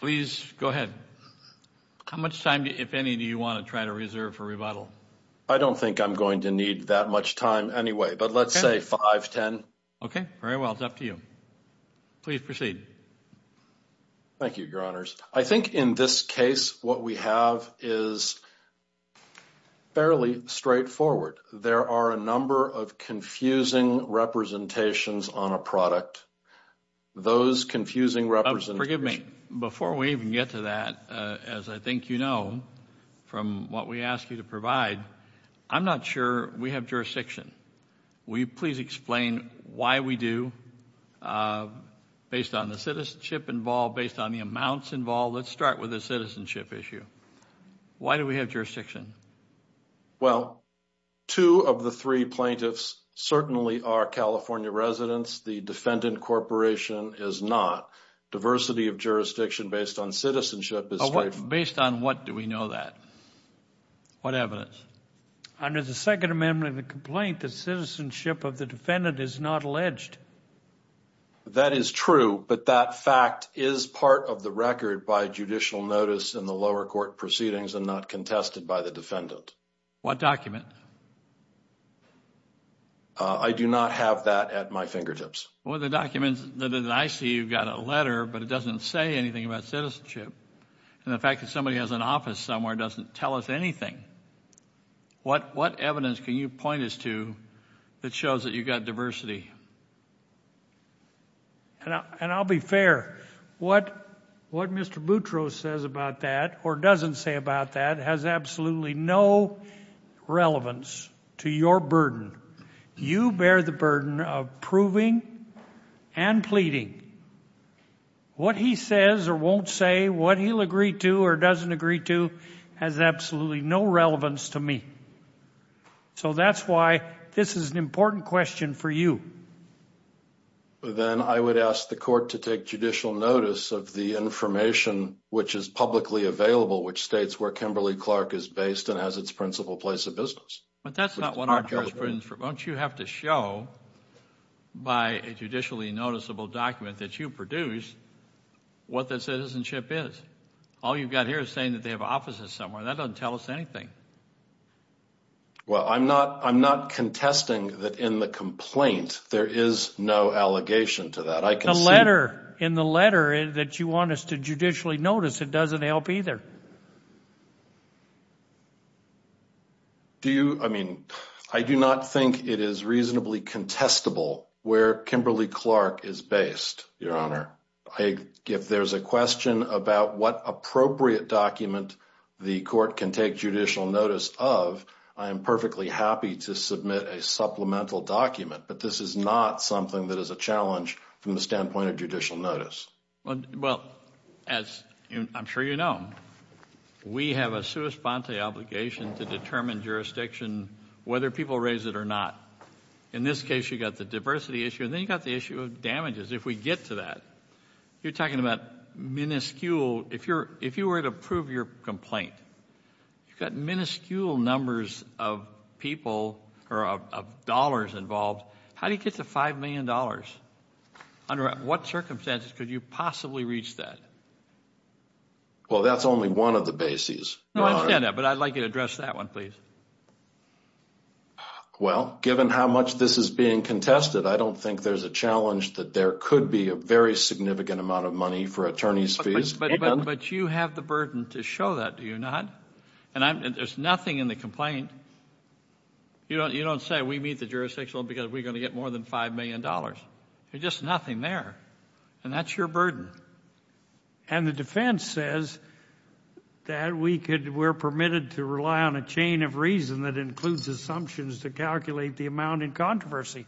Please go ahead. How much time, if any, do you want to try to reserve for rebuttal? I don't think I'm going to need that much time anyway, but let's say five, ten. Okay, very well. It's up to you. Please proceed. Thank you, Your Honors. I think in this case, what we have is fairly straightforward. There are a number of confusing representations on a product. Those confusing representations... Before we even get to that, as I think you know from what we ask you to provide, I'm not sure we have jurisdiction. Will you please explain why we do, based on the citizenship involved, based on the amounts involved? Let's start with the citizenship issue. Why do we have jurisdiction? Well, two of the three plaintiffs certainly are California residents. The defendant corporation is not. Diversity of jurisdiction based on citizenship is straightforward. Based on what do we know that? What evidence? Under the Second Amendment of the complaint, the citizenship of the defendant is not alleged. That is true, but that fact is part of the record by judicial notice in the lower court proceedings and not contested by the defendant. What document? I do not have that at my fingertips. Well, the document that I see, you've got a letter, but it doesn't say anything about citizenship. And the fact that somebody has an office somewhere doesn't tell us anything. What evidence can you point us to that shows that you've got diversity? And I'll be fair. What Mr. Boutro says about that or doesn't say about that has absolutely no relevance to your burden. You bear the burden of proving and pleading. What he says or won't say, what he'll agree to or doesn't agree to, has absolutely no relevance to me. So that's why this is an important question for you. Then I would ask the court to take judicial notice of the information which is publicly Clark is based and has its principal place of business. But that's not what our jurisprudence... Don't you have to show by a judicially noticeable document that you produce what the citizenship is? All you've got here is saying that they have offices somewhere. That doesn't tell us anything. Well, I'm not contesting that in the complaint, there is no allegation to that. The letter, in the letter that you want us to judicially notice, it doesn't help either. Do you, I mean, I do not think it is reasonably contestable where Kimberly Clark is based, Your Honor. If there's a question about what appropriate document the court can take judicial notice of, I am perfectly happy to submit a supplemental document. But this is not something that is a challenge from the standpoint of judicial notice. Well, as I'm sure you know, we have a sua sponte obligation to determine jurisdiction, whether people raise it or not. In this case, you've got the diversity issue, and then you've got the issue of damages. If we get to that, you're talking about minuscule... If you were to prove your complaint, you've got minuscule numbers of people or of dollars involved. How do you get to $5 million? Under what circumstances could you possibly reach that? Well, that's only one of the bases. No, I understand that, but I'd like you to address that one, please. Well, given how much this is being contested, I don't think there's a challenge that there could be a very significant amount of money for attorney's fees. But you have the burden to show that, do you not? And there's nothing in the complaint, you don't say we meet the jurisdiction because we're going to get more than $5 million. There's just nothing there, and that's your burden. And the defense says that we're permitted to rely on a chain of reason that includes assumptions to calculate the amount in controversy.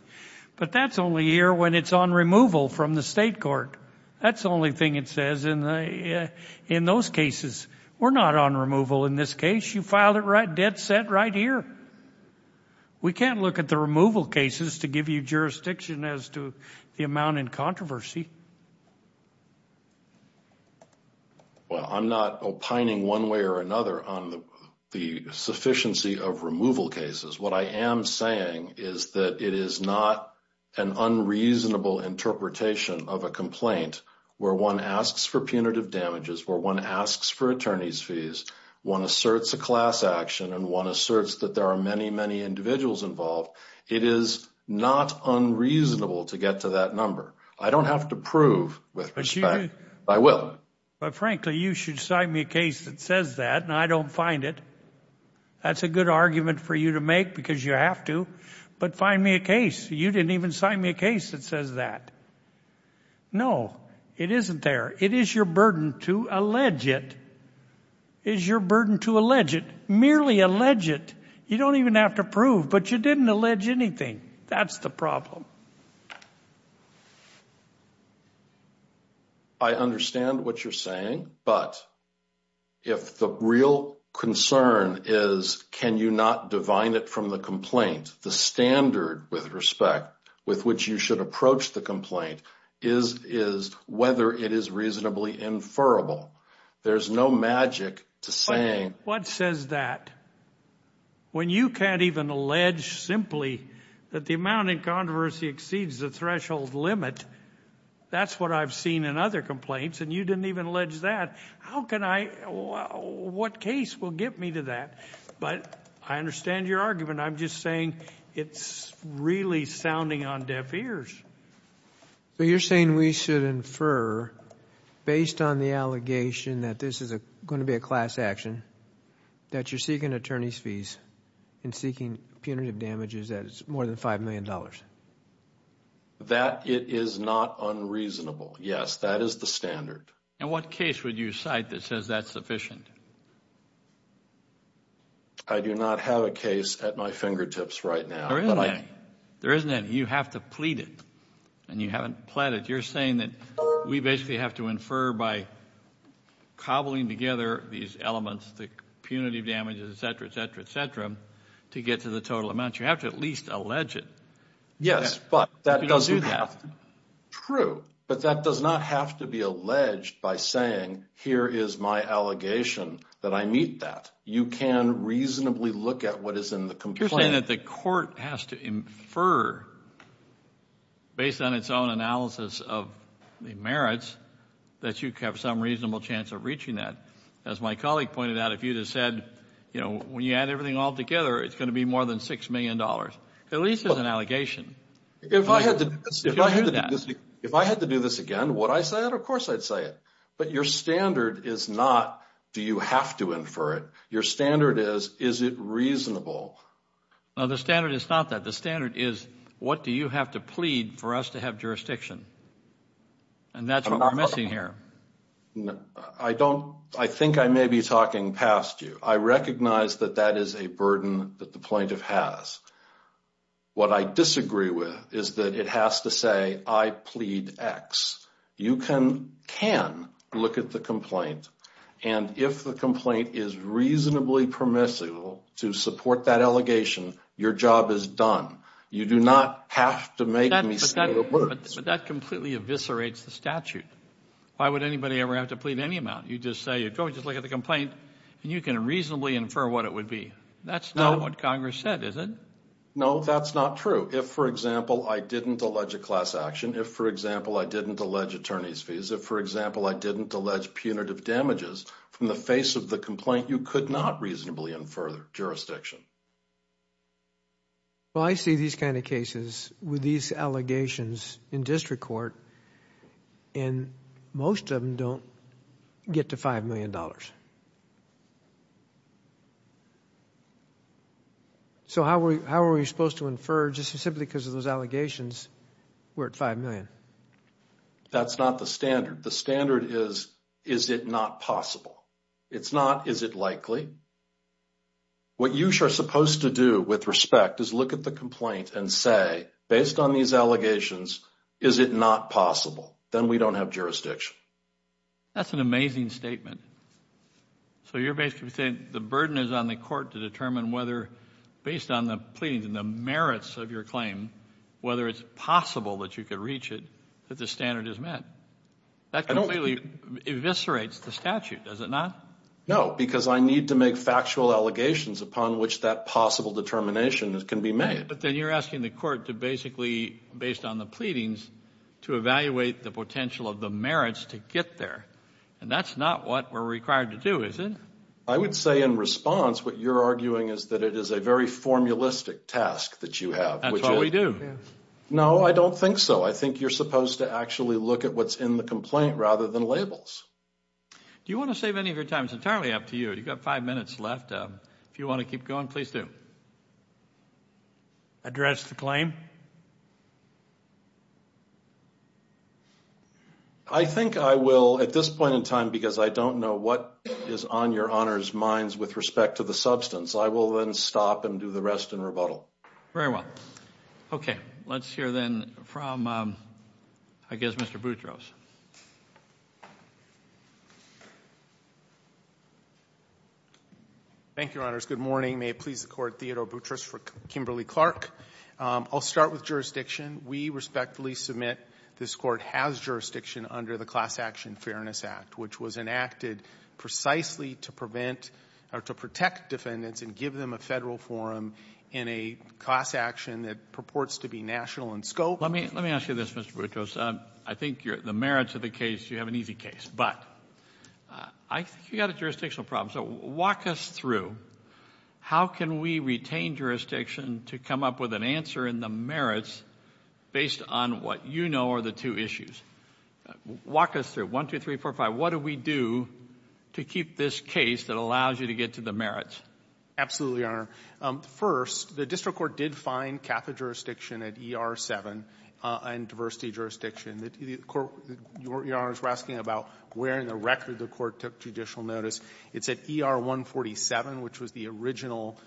But that's only here when it's on removal from the state court. That's the only thing it says in those cases. We're not on removal in this case. You filed it dead set right here. We can't look at the removal cases to give you jurisdiction as to the amount in controversy. Well, I'm not opining one way or another on the sufficiency of removal cases. What I am saying is that it is not an unreasonable interpretation of a complaint where one asks for punitive damages, where one asks for attorney's fees, one asserts a class action, and one asserts that there are many, many individuals involved. It is not unreasonable to get to that number. I don't have to prove with respect, but I will. But frankly, you should sign me a case that says that, and I don't find it. That's a good argument for you to make because you have to, but find me a case. You didn't even sign me a case that says that. No, it isn't there. It is your burden to allege it. It is your burden to allege it. Merely allege it. You don't even have to prove, but you didn't allege anything. That's the problem. I understand what you're saying, but if the real concern is can you not divine it from the complaint, the standard with respect with which you should approach the is whether it is reasonably inferable. There's no magic to saying... What says that? When you can't even allege simply that the amount of controversy exceeds the threshold limit, that's what I've seen in other complaints, and you didn't even allege that. How can I... What case will get me to that? But I understand your argument. I'm just saying it's really sounding on deaf ears. So you're saying we should infer, based on the allegation that this is a going to be a class action, that you're seeking attorney's fees and seeking punitive damages that is more than five million dollars? That it is not unreasonable. Yes, that is the standard. And what case would you cite that says that's sufficient? I do not have a case at my fingertips right now. There isn't any. There isn't any. You have to plead it, and you haven't pled it. You're saying that we basically have to infer by cobbling together these elements, the punitive damages, etc., etc., etc., to get to the total amount. You have to at least allege it. Yes, but that doesn't have... that I meet that. You can reasonably look at what is in the complaint. You're saying that the court has to infer, based on its own analysis of the merits, that you have some reasonable chance of reaching that. As my colleague pointed out, if you just said, you know, when you add everything all together, it's going to be more than six million dollars. At least there's an allegation. If I had to do this again, would I say it? Of course I'd say it. But your standard is not, do you have to infer it? Your standard is, is it reasonable? No, the standard is not that. The standard is, what do you have to plead for us to have jurisdiction? And that's what we're missing here. I don't... I think I may be talking past you. I recognize that that is a burden that the plaintiff has. What I disagree with is that it has to say, I plead X. You can look at the complaint and if the complaint is reasonably permissible to support that allegation, your job is done. You do not have to make me say the words. But that completely eviscerates the statute. Why would anybody ever have to plead any amount? You just say, just look at the complaint and you can reasonably infer what it would be. That's not what Congress said, is it? No, that's not true. If, for example, I didn't allege a class action, if, for example, I didn't allege punitive damages from the face of the complaint, you could not reasonably infer the jurisdiction. Well, I see these kind of cases with these allegations in district court and most of them don't get to $5 million. So how are we supposed to infer just simply because of those allegations we're at $5 million? That's not the standard. The standard is, is it not possible? It's not, is it likely? What you are supposed to do with respect is look at the complaint and say, based on these allegations, is it not possible? Then we don't have jurisdiction. That's an amazing statement. So you're basically saying the burden is on the court to determine whether, based on the pleadings and the merits of your claim, whether it's possible that you could reach it, that the standard is met. That completely eviscerates the statute, does it not? No, because I need to make factual allegations upon which that possible determination can be made. But then you're asking the court to basically, based on the pleadings, to evaluate the potential of the merits to get there. And that's not what we're required to do, is it? I would say in response, what you're arguing is that it is a very formulistic task that you have. That's what we do. No, I don't think so. I think you're supposed to actually look at what's in the complaint rather than labels. Do you want to save any of your time? It's entirely up to you. You've got five minutes left. If you want to keep going, please do. Address the claim? I think I will at this point in time, because I don't know what is on your honor's minds with respect to the substance. I will then stop and do the rest in rebuttal. Very well. Okay. Let's hear then from, I guess, Mr. Boutros. Thank you, your honors. Good morning. May it please the court, Theodore Boutros for Kimberly-Clark. I'll start with jurisdiction. We respectfully submit this court has jurisdiction under the Class Action Fairness Act, which was enacted precisely to prevent or to protect defendants and give them a federal forum in a class action that purports to be national in scope. Let me ask you this, Mr. Boutros. I think the merits of the case, you have an easy case. But I think you've got a jurisdictional problem. So walk us through, how can we retain jurisdiction to come up with an answer in the merits based on what you know are the two issues? Walk us through. One, two, three, four, five. What do we do to keep this case that allows you to get to the merits? Absolutely, your honor. First, the district court did find Catholic jurisdiction at ER-7 in diversity jurisdiction. Your honors were asking about where in the record the court took judicial notice. It's at ER-147, which was the original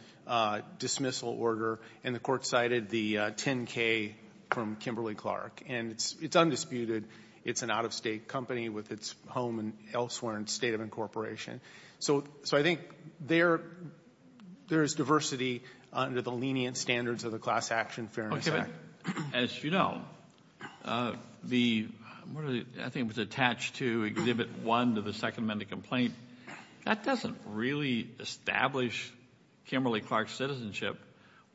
dismissal order. And the court cited the 10-K from Kimberly-Clark. And it's undisputed. It's an out-of-state company with its home elsewhere in the state of incorporation. So I think there's diversity under the lenient standards of the Class Action Fairness Act. Okay. But as you know, the one that I think was attached to Exhibit 1 to the Second Amendment complaint, that doesn't really establish Kimberly-Clark's citizenship.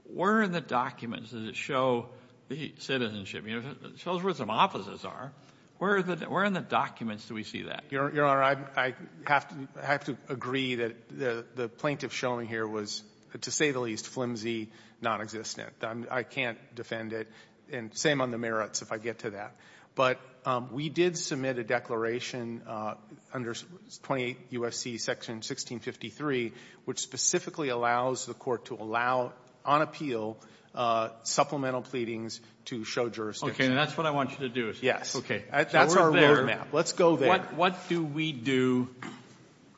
Where in the documents does it show the citizenship? It shows where some offices are. Where in the documents do we see that? Your honor, I have to agree that the plaintiff shown here was, to say the least, flimsy, nonexistent. I can't defend it. And same on the merits, if I get to that. But we did submit a declaration under 28 U.S.C. Section 1653, which specifically allows the court to allow, on appeal, supplemental pleadings to show jurisdiction. Okay. And that's what I want you to do is go there. Yes. Okay. That's our road map. Let's go there. What do we do,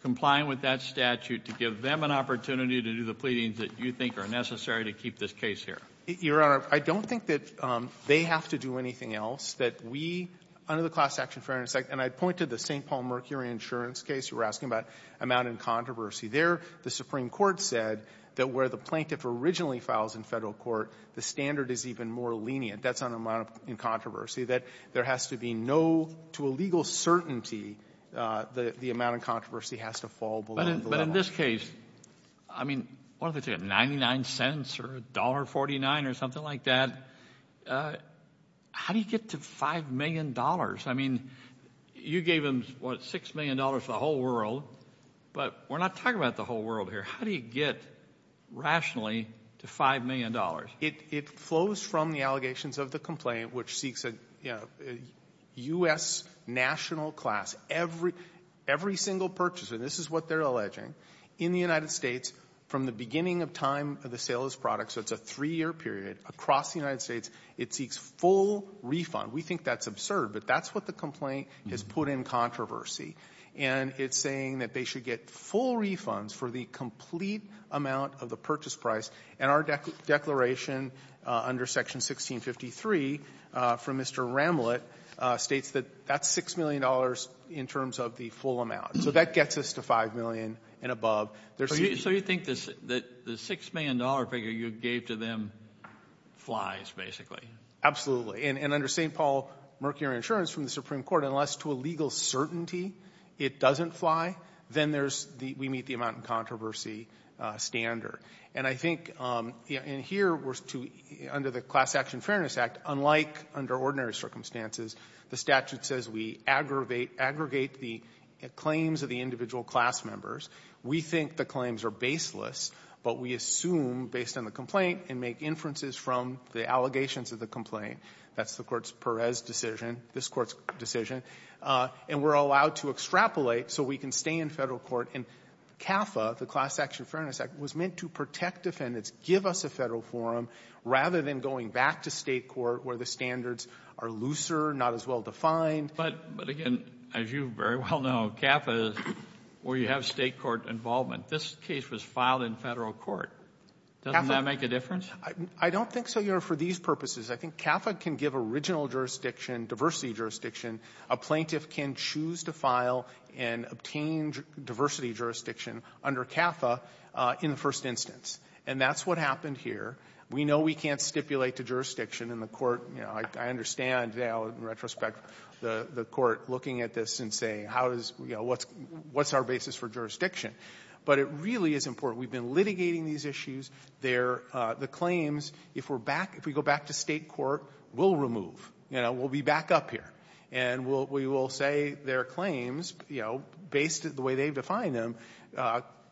complying with that statute, to give them an opportunity to do the pleadings that you think are necessary to keep this case here? Your honor, I don't think that they have to do anything else. That we, under the Class Action Fairness Act, and I'd point to the St. Paul Mercury insurance case you were asking about, amount in controversy. There, the Supreme Court said that where the plaintiff originally files in Federal court, the standard is even more lenient. That's on amount in controversy, that there has to be no, to a legal certainty, the amount in controversy has to fall below the level. But in this case, I mean, what do they say, $0.99 or $1.49 or something like that? How do you get to $5 million? I mean, you gave them, what, $6 million to the whole world, but we're not talking about the whole world here. How do you get, rationally, to $5 million? It flows from the allegations of the complaint, which seeks a U.S. national class, every single purchaser, this is what they're alleging, in the United States from the beginning of time of the sale of this product, so it's a three-year period, across the United States, it seeks full refund. We think that's absurd, but that's what the complaint has put in controversy. And it's saying that they should get full refunds for the complete amount of the purchase price, and our declaration under Section 1653, from Mr. Ramlett, states that that's $6 million in terms of the full amount. So that gets us to $5 million and above. So you think that the $6 million figure you gave to them flies, basically? Absolutely. And under St. Paul Mercury Insurance from the Supreme Court, unless to a legal certainty it doesn't fly, then there's the we-meet-the-amount-in-controversy standard. And I think, you know, in here, we're to, under the Class Action Fairness Act, unlike under ordinary circumstances, the statute says we aggravate the claims of the individual class members. We think the claims are baseless, but we assume, based on the complaint, and make inferences from the allegations of the complaint. That's the Court's Perez decision, this Court's decision. And we're allowed to extrapolate so we can stay in Federal court. And CAFA, the Class Action Fairness Act, was meant to protect defendants, give us a Federal forum, rather than going back to State court where the standards are looser, not as well defined. But again, as you very well know, CAFA, where you have State court involvement, this case was filed in Federal court. Doesn't that make a difference? I don't think so, Your Honor, for these purposes. I think CAFA can give original jurisdiction, diversity jurisdiction. A plaintiff can choose to file and obtain diversity jurisdiction under CAFA in the first instance. And that's what happened here. We know we can't stipulate to jurisdiction in the court. You know, I understand now, in retrospect, the court looking at this and saying, how does we go? What's our basis for jurisdiction? But it really is important. We've been litigating these issues. Their the claims, if we're back, if we go back to State court, we'll remove. You know, we'll be back up here. And we will say their claims, you know, based on the way they've defined them,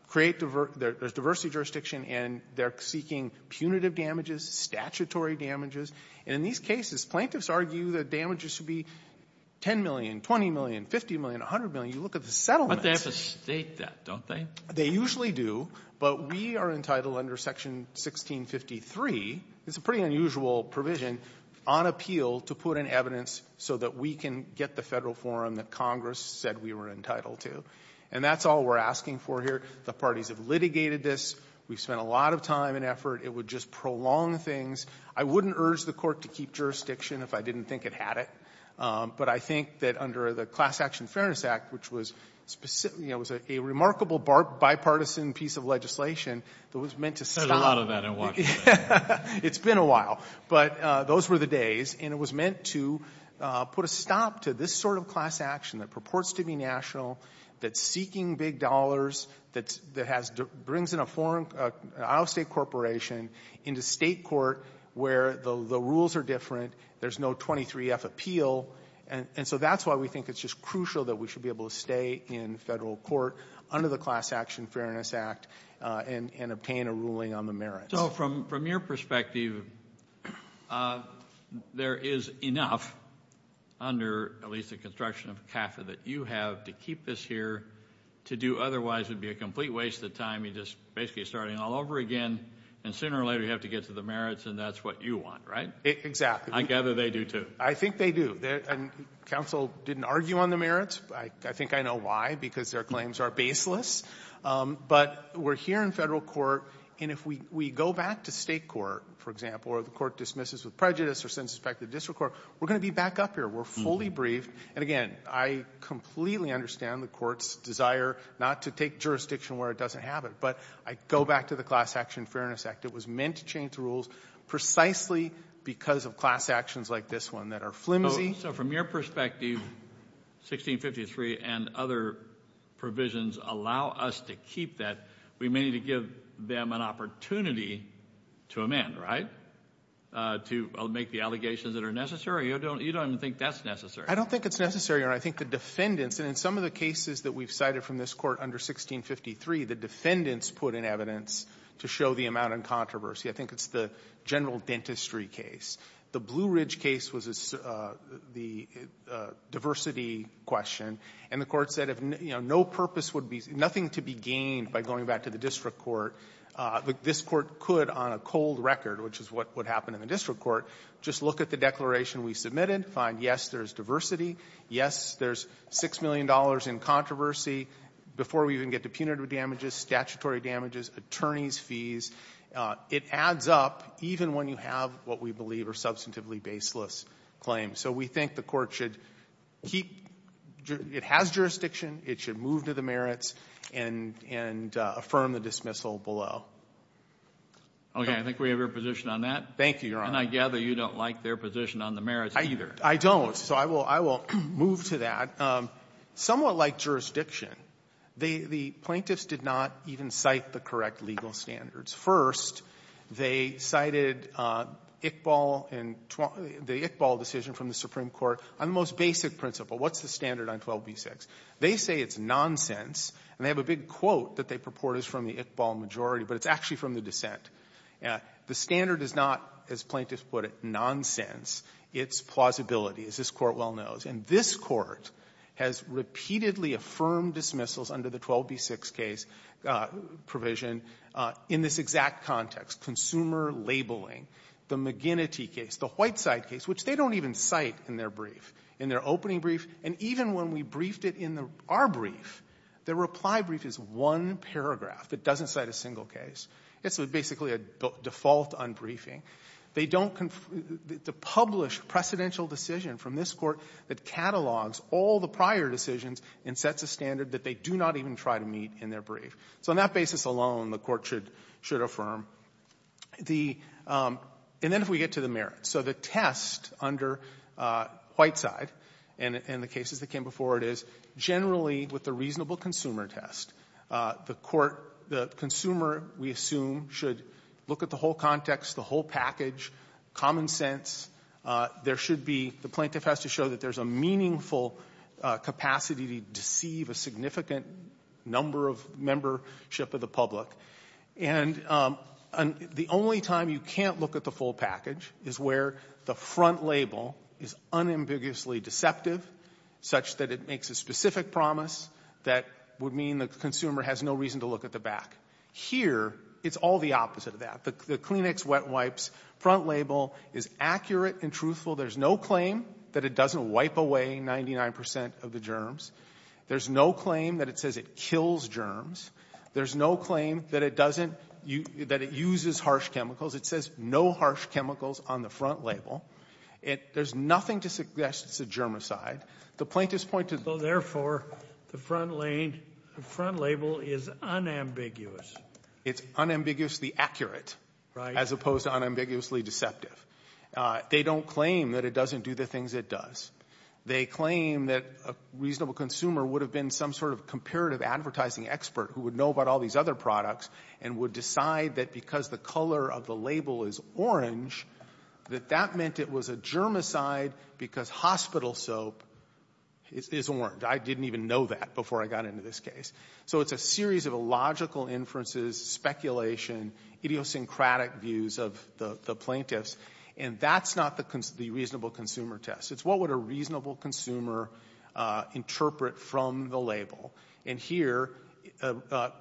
create diversity jurisdiction, and they're seeking punitive damages, statutory damages. And in these cases, plaintiffs argue that damages should be 10 million, 20 million, 50 million, 100 million. You look at the settlements. Kennedy. I thought they have to state that, don't they? They usually do, but we are entitled under Section 1653. It's a pretty unusual provision, on appeal, to put in evidence so that we can get the Federal forum that Congress said we were entitled to. And that's all we're asking for here. The parties have litigated this. We've spent a lot of time and effort. It would just prolong things. I wouldn't urge the court to keep jurisdiction if I didn't think it had it. But I think that under the Class Action Fairness Act, which was specifically a remarkable bipartisan piece of legislation that was meant to stop — There's a lot of that in Washington. It's been a while. But those were the days. And it was meant to put a stop to this sort of class action that purports to be national, that's seeking big dollars, that brings in a foreign — an out-of-state corporation into State court where the rules are different, there's no 23-F appeal. And so that's why we think it's just crucial that we should be able to stay in Federal court under the Class Action Fairness Act and obtain a ruling on the merits. So from your perspective, there is enough under at least the construction of CAFA that you have to keep this here. To do otherwise would be a complete waste of time, you're just basically starting all over again, and sooner or later you have to get to the merits, and that's what you want, right? Exactly. I gather they do, too. I think they do. Counsel didn't argue on the merits. I think I know why, because their claims are baseless. But we're here in Federal court, and if we go back to State court, for example, or the court dismisses with prejudice or sends it back to the district court, we're going to be back up here. We're fully briefed. And again, I completely understand the court's desire not to take jurisdiction where it doesn't have it. But I go back to the Class Action Fairness Act. It was meant to change the rules precisely because of class actions like this one that are flimsy. So from your perspective, 1653 and other provisions allow us to keep that. We may need to give them an opportunity to amend, right? To make the allegations that are necessary? You don't even think that's necessary? I don't think it's necessary, Your Honor. I think the defendants, and in some of the cases that we've cited from this Court under 1653, the defendants put in evidence to show the amount in controversy. I think it's the general dentistry case. The Blue Ridge case was the diversity question. And the Court said, you know, no purpose would be — nothing to be gained by going back to the district court. This Court could, on a cold record, which is what would happen in the district court, just look at the declaration we submitted, find, yes, there's diversity, yes, there's $6 million in controversy. Before we even get to punitive damages, statutory damages, attorneys' fees, it adds up even when you have what we believe are substantively baseless claims. So we think the Court should keep — it has jurisdiction. It should move to the merits and — and affirm the dismissal below. Okay. I think we have your position on that. Thank you, Your Honor. And I gather you don't like their position on the merits either. I don't. So I will — I will move to that. Somewhat like jurisdiction, the — the plaintiffs did not even cite the correct legal standards. First, they cited Iqbal and — the Iqbal decision from the Supreme Court on the most basic principle. What's the standard on 12b-6? They say it's nonsense, and they have a big quote that they purport is from the Iqbal majority, but it's actually from the dissent. The standard is not, as plaintiffs put it, nonsense. It's plausibility, as this Court well knows. And this Court has repeatedly affirmed dismissals under the 12b-6 case provision in this exact context, consumer labeling, the McGinnity case, the Whiteside case, which they don't even cite in their brief, in their opening brief. And even when we briefed it in our brief, the reply brief is one paragraph. It doesn't cite a single case. It's basically a default on briefing. They don't — the published precedential decision from this Court that catalogs all the prior decisions and sets a standard that they do not even try to meet in their brief. So on that basis alone, the Court should — should affirm. The — and then if we get to the merits. So the test under Whiteside and — and the cases that came before it is, generally, with the reasonable consumer test, the Court — the consumer, we assume, should look at the whole context, the whole package, common sense. There should be — the plaintiff has to show that there's a meaningful capacity to deceive a significant number of membership of the public. And the only time you can't look at the full package is where the front label is unambiguously deceptive such that it makes a specific promise that would mean the consumer has no reason to look at the back. Here, it's all the opposite of that. The Kleenex wet wipes front label is accurate and truthful. There's no claim that it doesn't wipe away 99 percent of the germs. There's no claim that it says it kills germs. There's no claim that it doesn't — that it uses harsh chemicals. It says no harsh chemicals on the front label. There's nothing to suggest it's a germicide. The plaintiff's point to — So, therefore, the front lane — the front label is unambiguous. It's unambiguously accurate. Right. As opposed to unambiguously deceptive. They don't claim that it doesn't do the things it does. They claim that a reasonable consumer would have been some sort of comparative advertising expert who would know about all these other products and would decide that because the color of the label is orange, that that meant it was a germicide because hospital soap is orange. I didn't even know that before I got into this case. So it's a series of illogical inferences, speculation, idiosyncratic views of the plaintiffs, and that's not the reasonable consumer test. It's what would a reasonable consumer interpret from the label. And here, a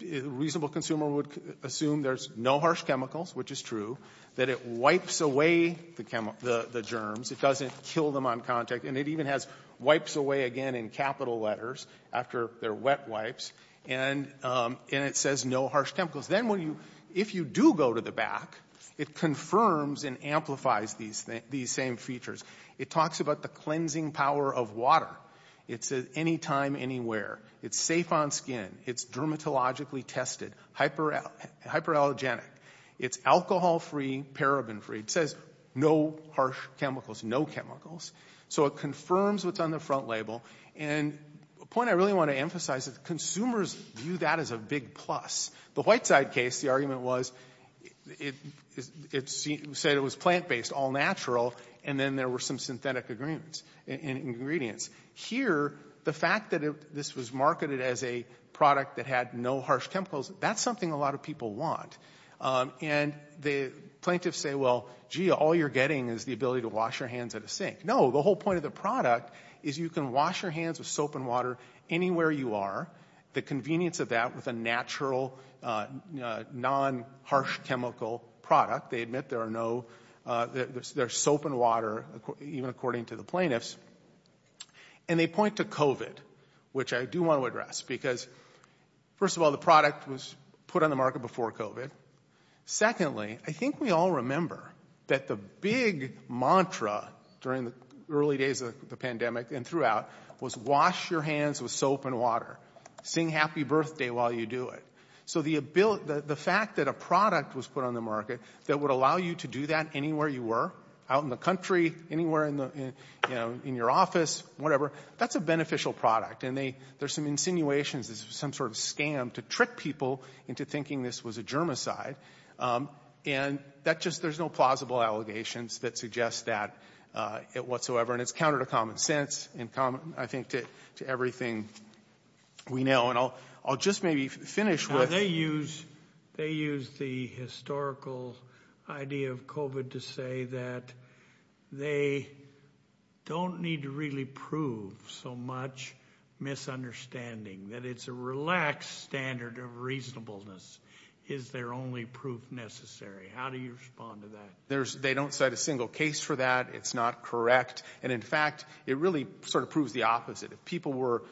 reasonable consumer would assume there's no harsh chemicals, which is true, that it wipes away the germs. It doesn't kill them on contact. And it even has wipes away again in capital letters after they're wet wipes. And it says no harsh chemicals. Then when you — if you do go to the back, it confirms and amplifies these same features. It talks about the cleansing power of water. It says anytime, anywhere. It's safe on skin. It's dermatologically tested, hyperallergenic. It's alcohol-free, paraben-free. It says no harsh chemicals, no chemicals. So it confirms what's on the front label. And a point I really want to emphasize is consumers view that as a big plus. The Whiteside case, the argument was it said it was plant-based, all natural, and then there were some synthetic ingredients. Here, the fact that this was marketed as a product that had no harsh chemicals, that's something a lot of people want. And the plaintiffs say, well, gee, all you're getting is the ability to wash your hands at a sink. No, the whole point of the product is you can wash your hands with soap and water anywhere you are. The convenience of that with a natural, non-harsh chemical product. They admit there are no — there's soap and water, even according to the plaintiffs. And they point to COVID, which I do want to address, because, first of all, the product was put on the market before COVID. Secondly, I think we all remember that the big mantra during the early days of the pandemic and throughout was wash your hands with soap and water. Sing happy birthday while you do it. So the ability — the fact that a product was put on the market that would allow you to do that anywhere you were, out in the country, anywhere in the — you know, in your office, whatever, that's a beneficial product. And they — there's some insinuations this was some sort of scam to trick people into thinking this was a germicide. And that just — there's no plausible allegations that suggest that whatsoever. And it's counter to common sense and, I think, to everything we know. And I'll just maybe finish with — They use the historical idea of COVID to say that they don't need to really prove so much misunderstanding, that it's a relaxed standard of reasonableness is their only proof necessary. How do you respond to that? There's — they don't cite a single case for that. It's not correct. And, in fact, it really sort of proves the opposite. If people were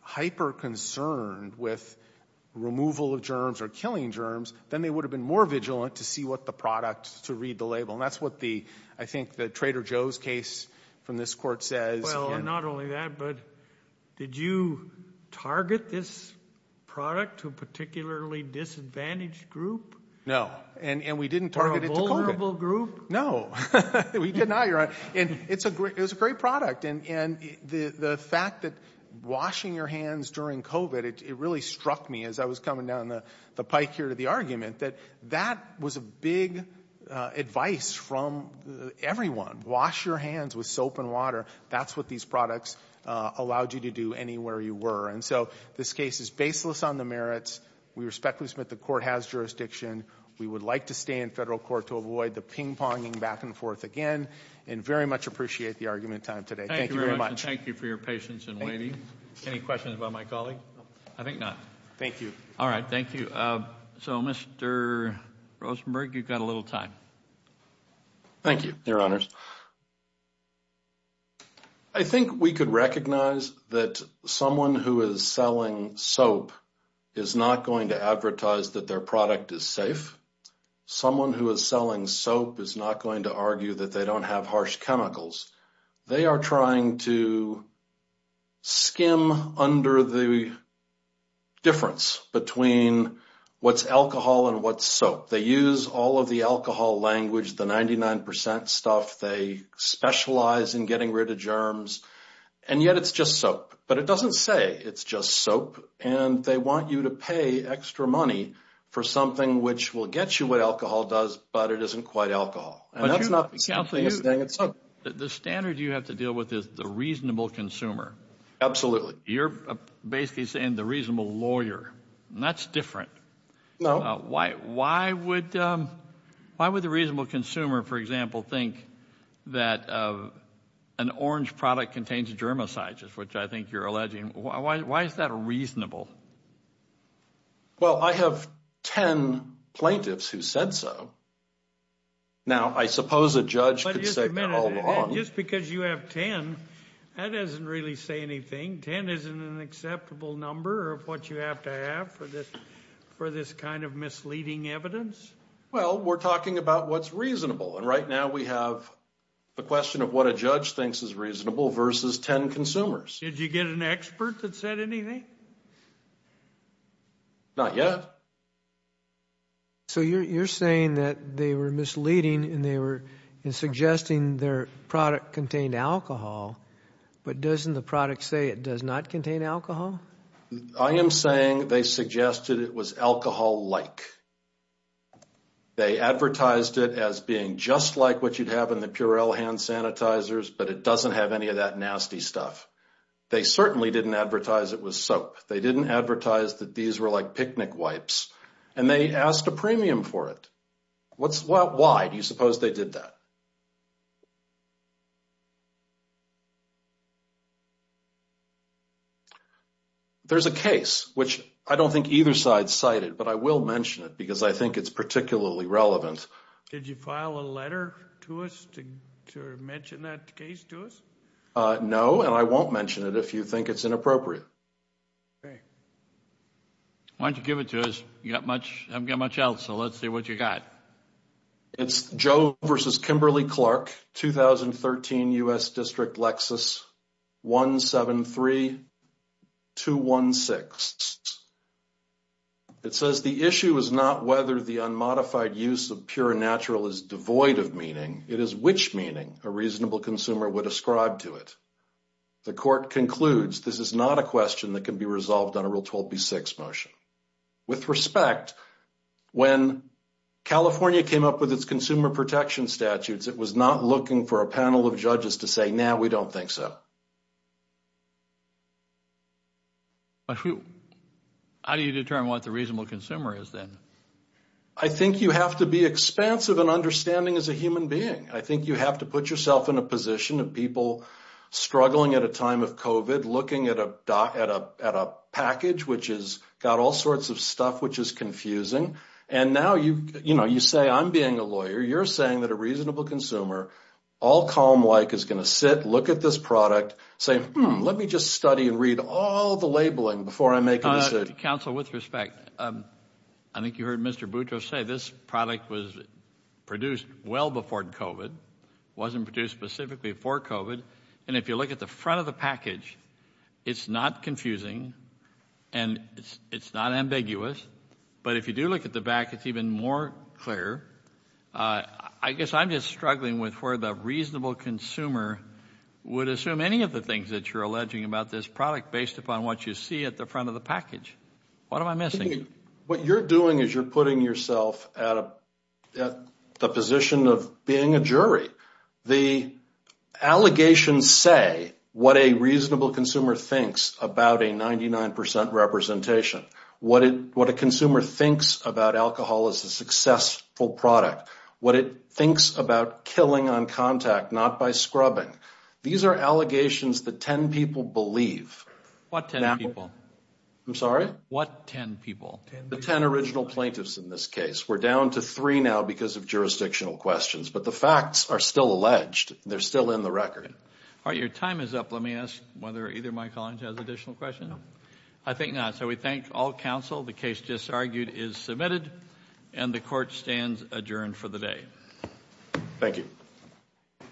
hyper-concerned with removal of germs or killing germs, then they would have been more vigilant to see what the product — to read the label. And that's what the — I think the Trader Joe's case from this court says. Well, and not only that, but did you target this product to a particularly disadvantaged group? No. And we didn't target it to COVID. Or a vulnerable group? No. We did not, Your Honor. And it's a great — it was a great product. And the fact that washing your hands during COVID, it really struck me as I was coming down the pike here to the argument that that was a big advice from everyone. Wash your hands with soap and water. That's what these products allowed you to do anywhere you were. And so this case is baseless on the merits. We respectfully submit the court has jurisdiction. We would like to stay in federal court to avoid the ping-ponging back and forth again and very much appreciate the argument time today. Thank you very much. Thank you for your patience and waiting. Any questions about my colleague? I think not. Thank you. All right. Thank you. So, Mr. Rosenberg, you've got a little time. Thank you, Your Honors. I think we could recognize that someone who is selling soap is not going to advertise that their product is safe. Someone who is selling soap is not going to argue that they don't have harsh chemicals. They are trying to skim under the difference between what's alcohol and what's soap. They use all of the alcohol language, the 99% stuff. They specialize in getting rid of germs. And yet it's just soap. But it doesn't say it's just soap. And they want you to pay extra money for something which will get you what alcohol does, but it isn't quite alcohol. And that's not the same thing. The standard you have to deal with is the reasonable consumer. Absolutely. You're basically saying the reasonable lawyer. That's different. No. Why would the reasonable consumer, for example, think that an orange product contains germicides, which I think you're alleging? Why is that a reasonable? Well, I have 10 plaintiffs who said so. Now, I suppose a judge could say they're all wrong. Just because you have 10, that doesn't really say anything. 10 isn't an acceptable number of what you have to have for this kind of misleading evidence. Well, we're talking about what's reasonable. And right now we have the question of what a judge thinks is reasonable versus 10 consumers. Did you get an expert that said anything? Not yet. So you're saying that they were misleading and they were suggesting their product contained alcohol, but doesn't the product say it does not contain alcohol? I am saying they suggested it was alcohol-like. They advertised it as being just like what you'd have in the Purell hand sanitizers, but it doesn't have any of that nasty stuff. They certainly didn't advertise it was soap. They didn't advertise that these were like picnic wipes. And they asked a premium for it. Why do you suppose they did that? There's a case, which I don't think either side cited, but I will mention it because I think it's particularly relevant. Did you file a letter to us to mention that case to us? No, and I won't mention it if you think it's inappropriate. Why don't you give it to us? You haven't got much else, so let's see what you got. It's Joe versus Kimberly Clark, 2013 U.S. District Lexus, 173216. It says, the issue is not whether the unmodified use of pure and natural is devoid of meaning. It is which meaning a reasonable consumer would ascribe to it. The court concludes, this is not a question that can be resolved on a Rule 12b-6 motion. With respect, when California came up with its consumer protection statutes, it was not looking for a panel of judges to say, no, we don't think so. But how do you determine what the reasonable consumer is then? I think you have to be expansive and understanding as a human being. I think you have to put yourself in a position of people struggling at a time of COVID, looking at a package, which has got all sorts of stuff, which is confusing. And now you say, I'm being a lawyer. You're saying that a reasonable consumer, all calm like, is going to sit, look at this product, say, let me just study and read all the labeling before I make a decision. Counsel, with respect, I think you heard Mr. Boutros say this product was produced well before COVID, wasn't produced specifically for COVID. And if you look at the front of the package, it's not confusing and it's not ambiguous. But if you do look at the back, it's even more clear. I guess I'm just struggling with where the reasonable consumer would assume any of the things that you're alleging about this product based upon what you see at the front of the package. What am I missing? What you're doing is you're putting yourself at the position of being a jury. The allegations say what a reasonable consumer thinks about a 99% representation. What a consumer thinks about alcohol as a successful product. What it thinks about killing on contact, not by scrubbing. These are allegations that 10 people believe. What 10 people? I'm sorry? What 10 people? The 10 original plaintiffs in this case. We're down to three now because of jurisdictional questions. But the facts are still alleged. They're still in the record. All right, your time is up. Let me ask whether either of my colleagues has additional questions. I think not. We thank all counsel. The case just argued is submitted. The court stands adjourned for the day. Thank you.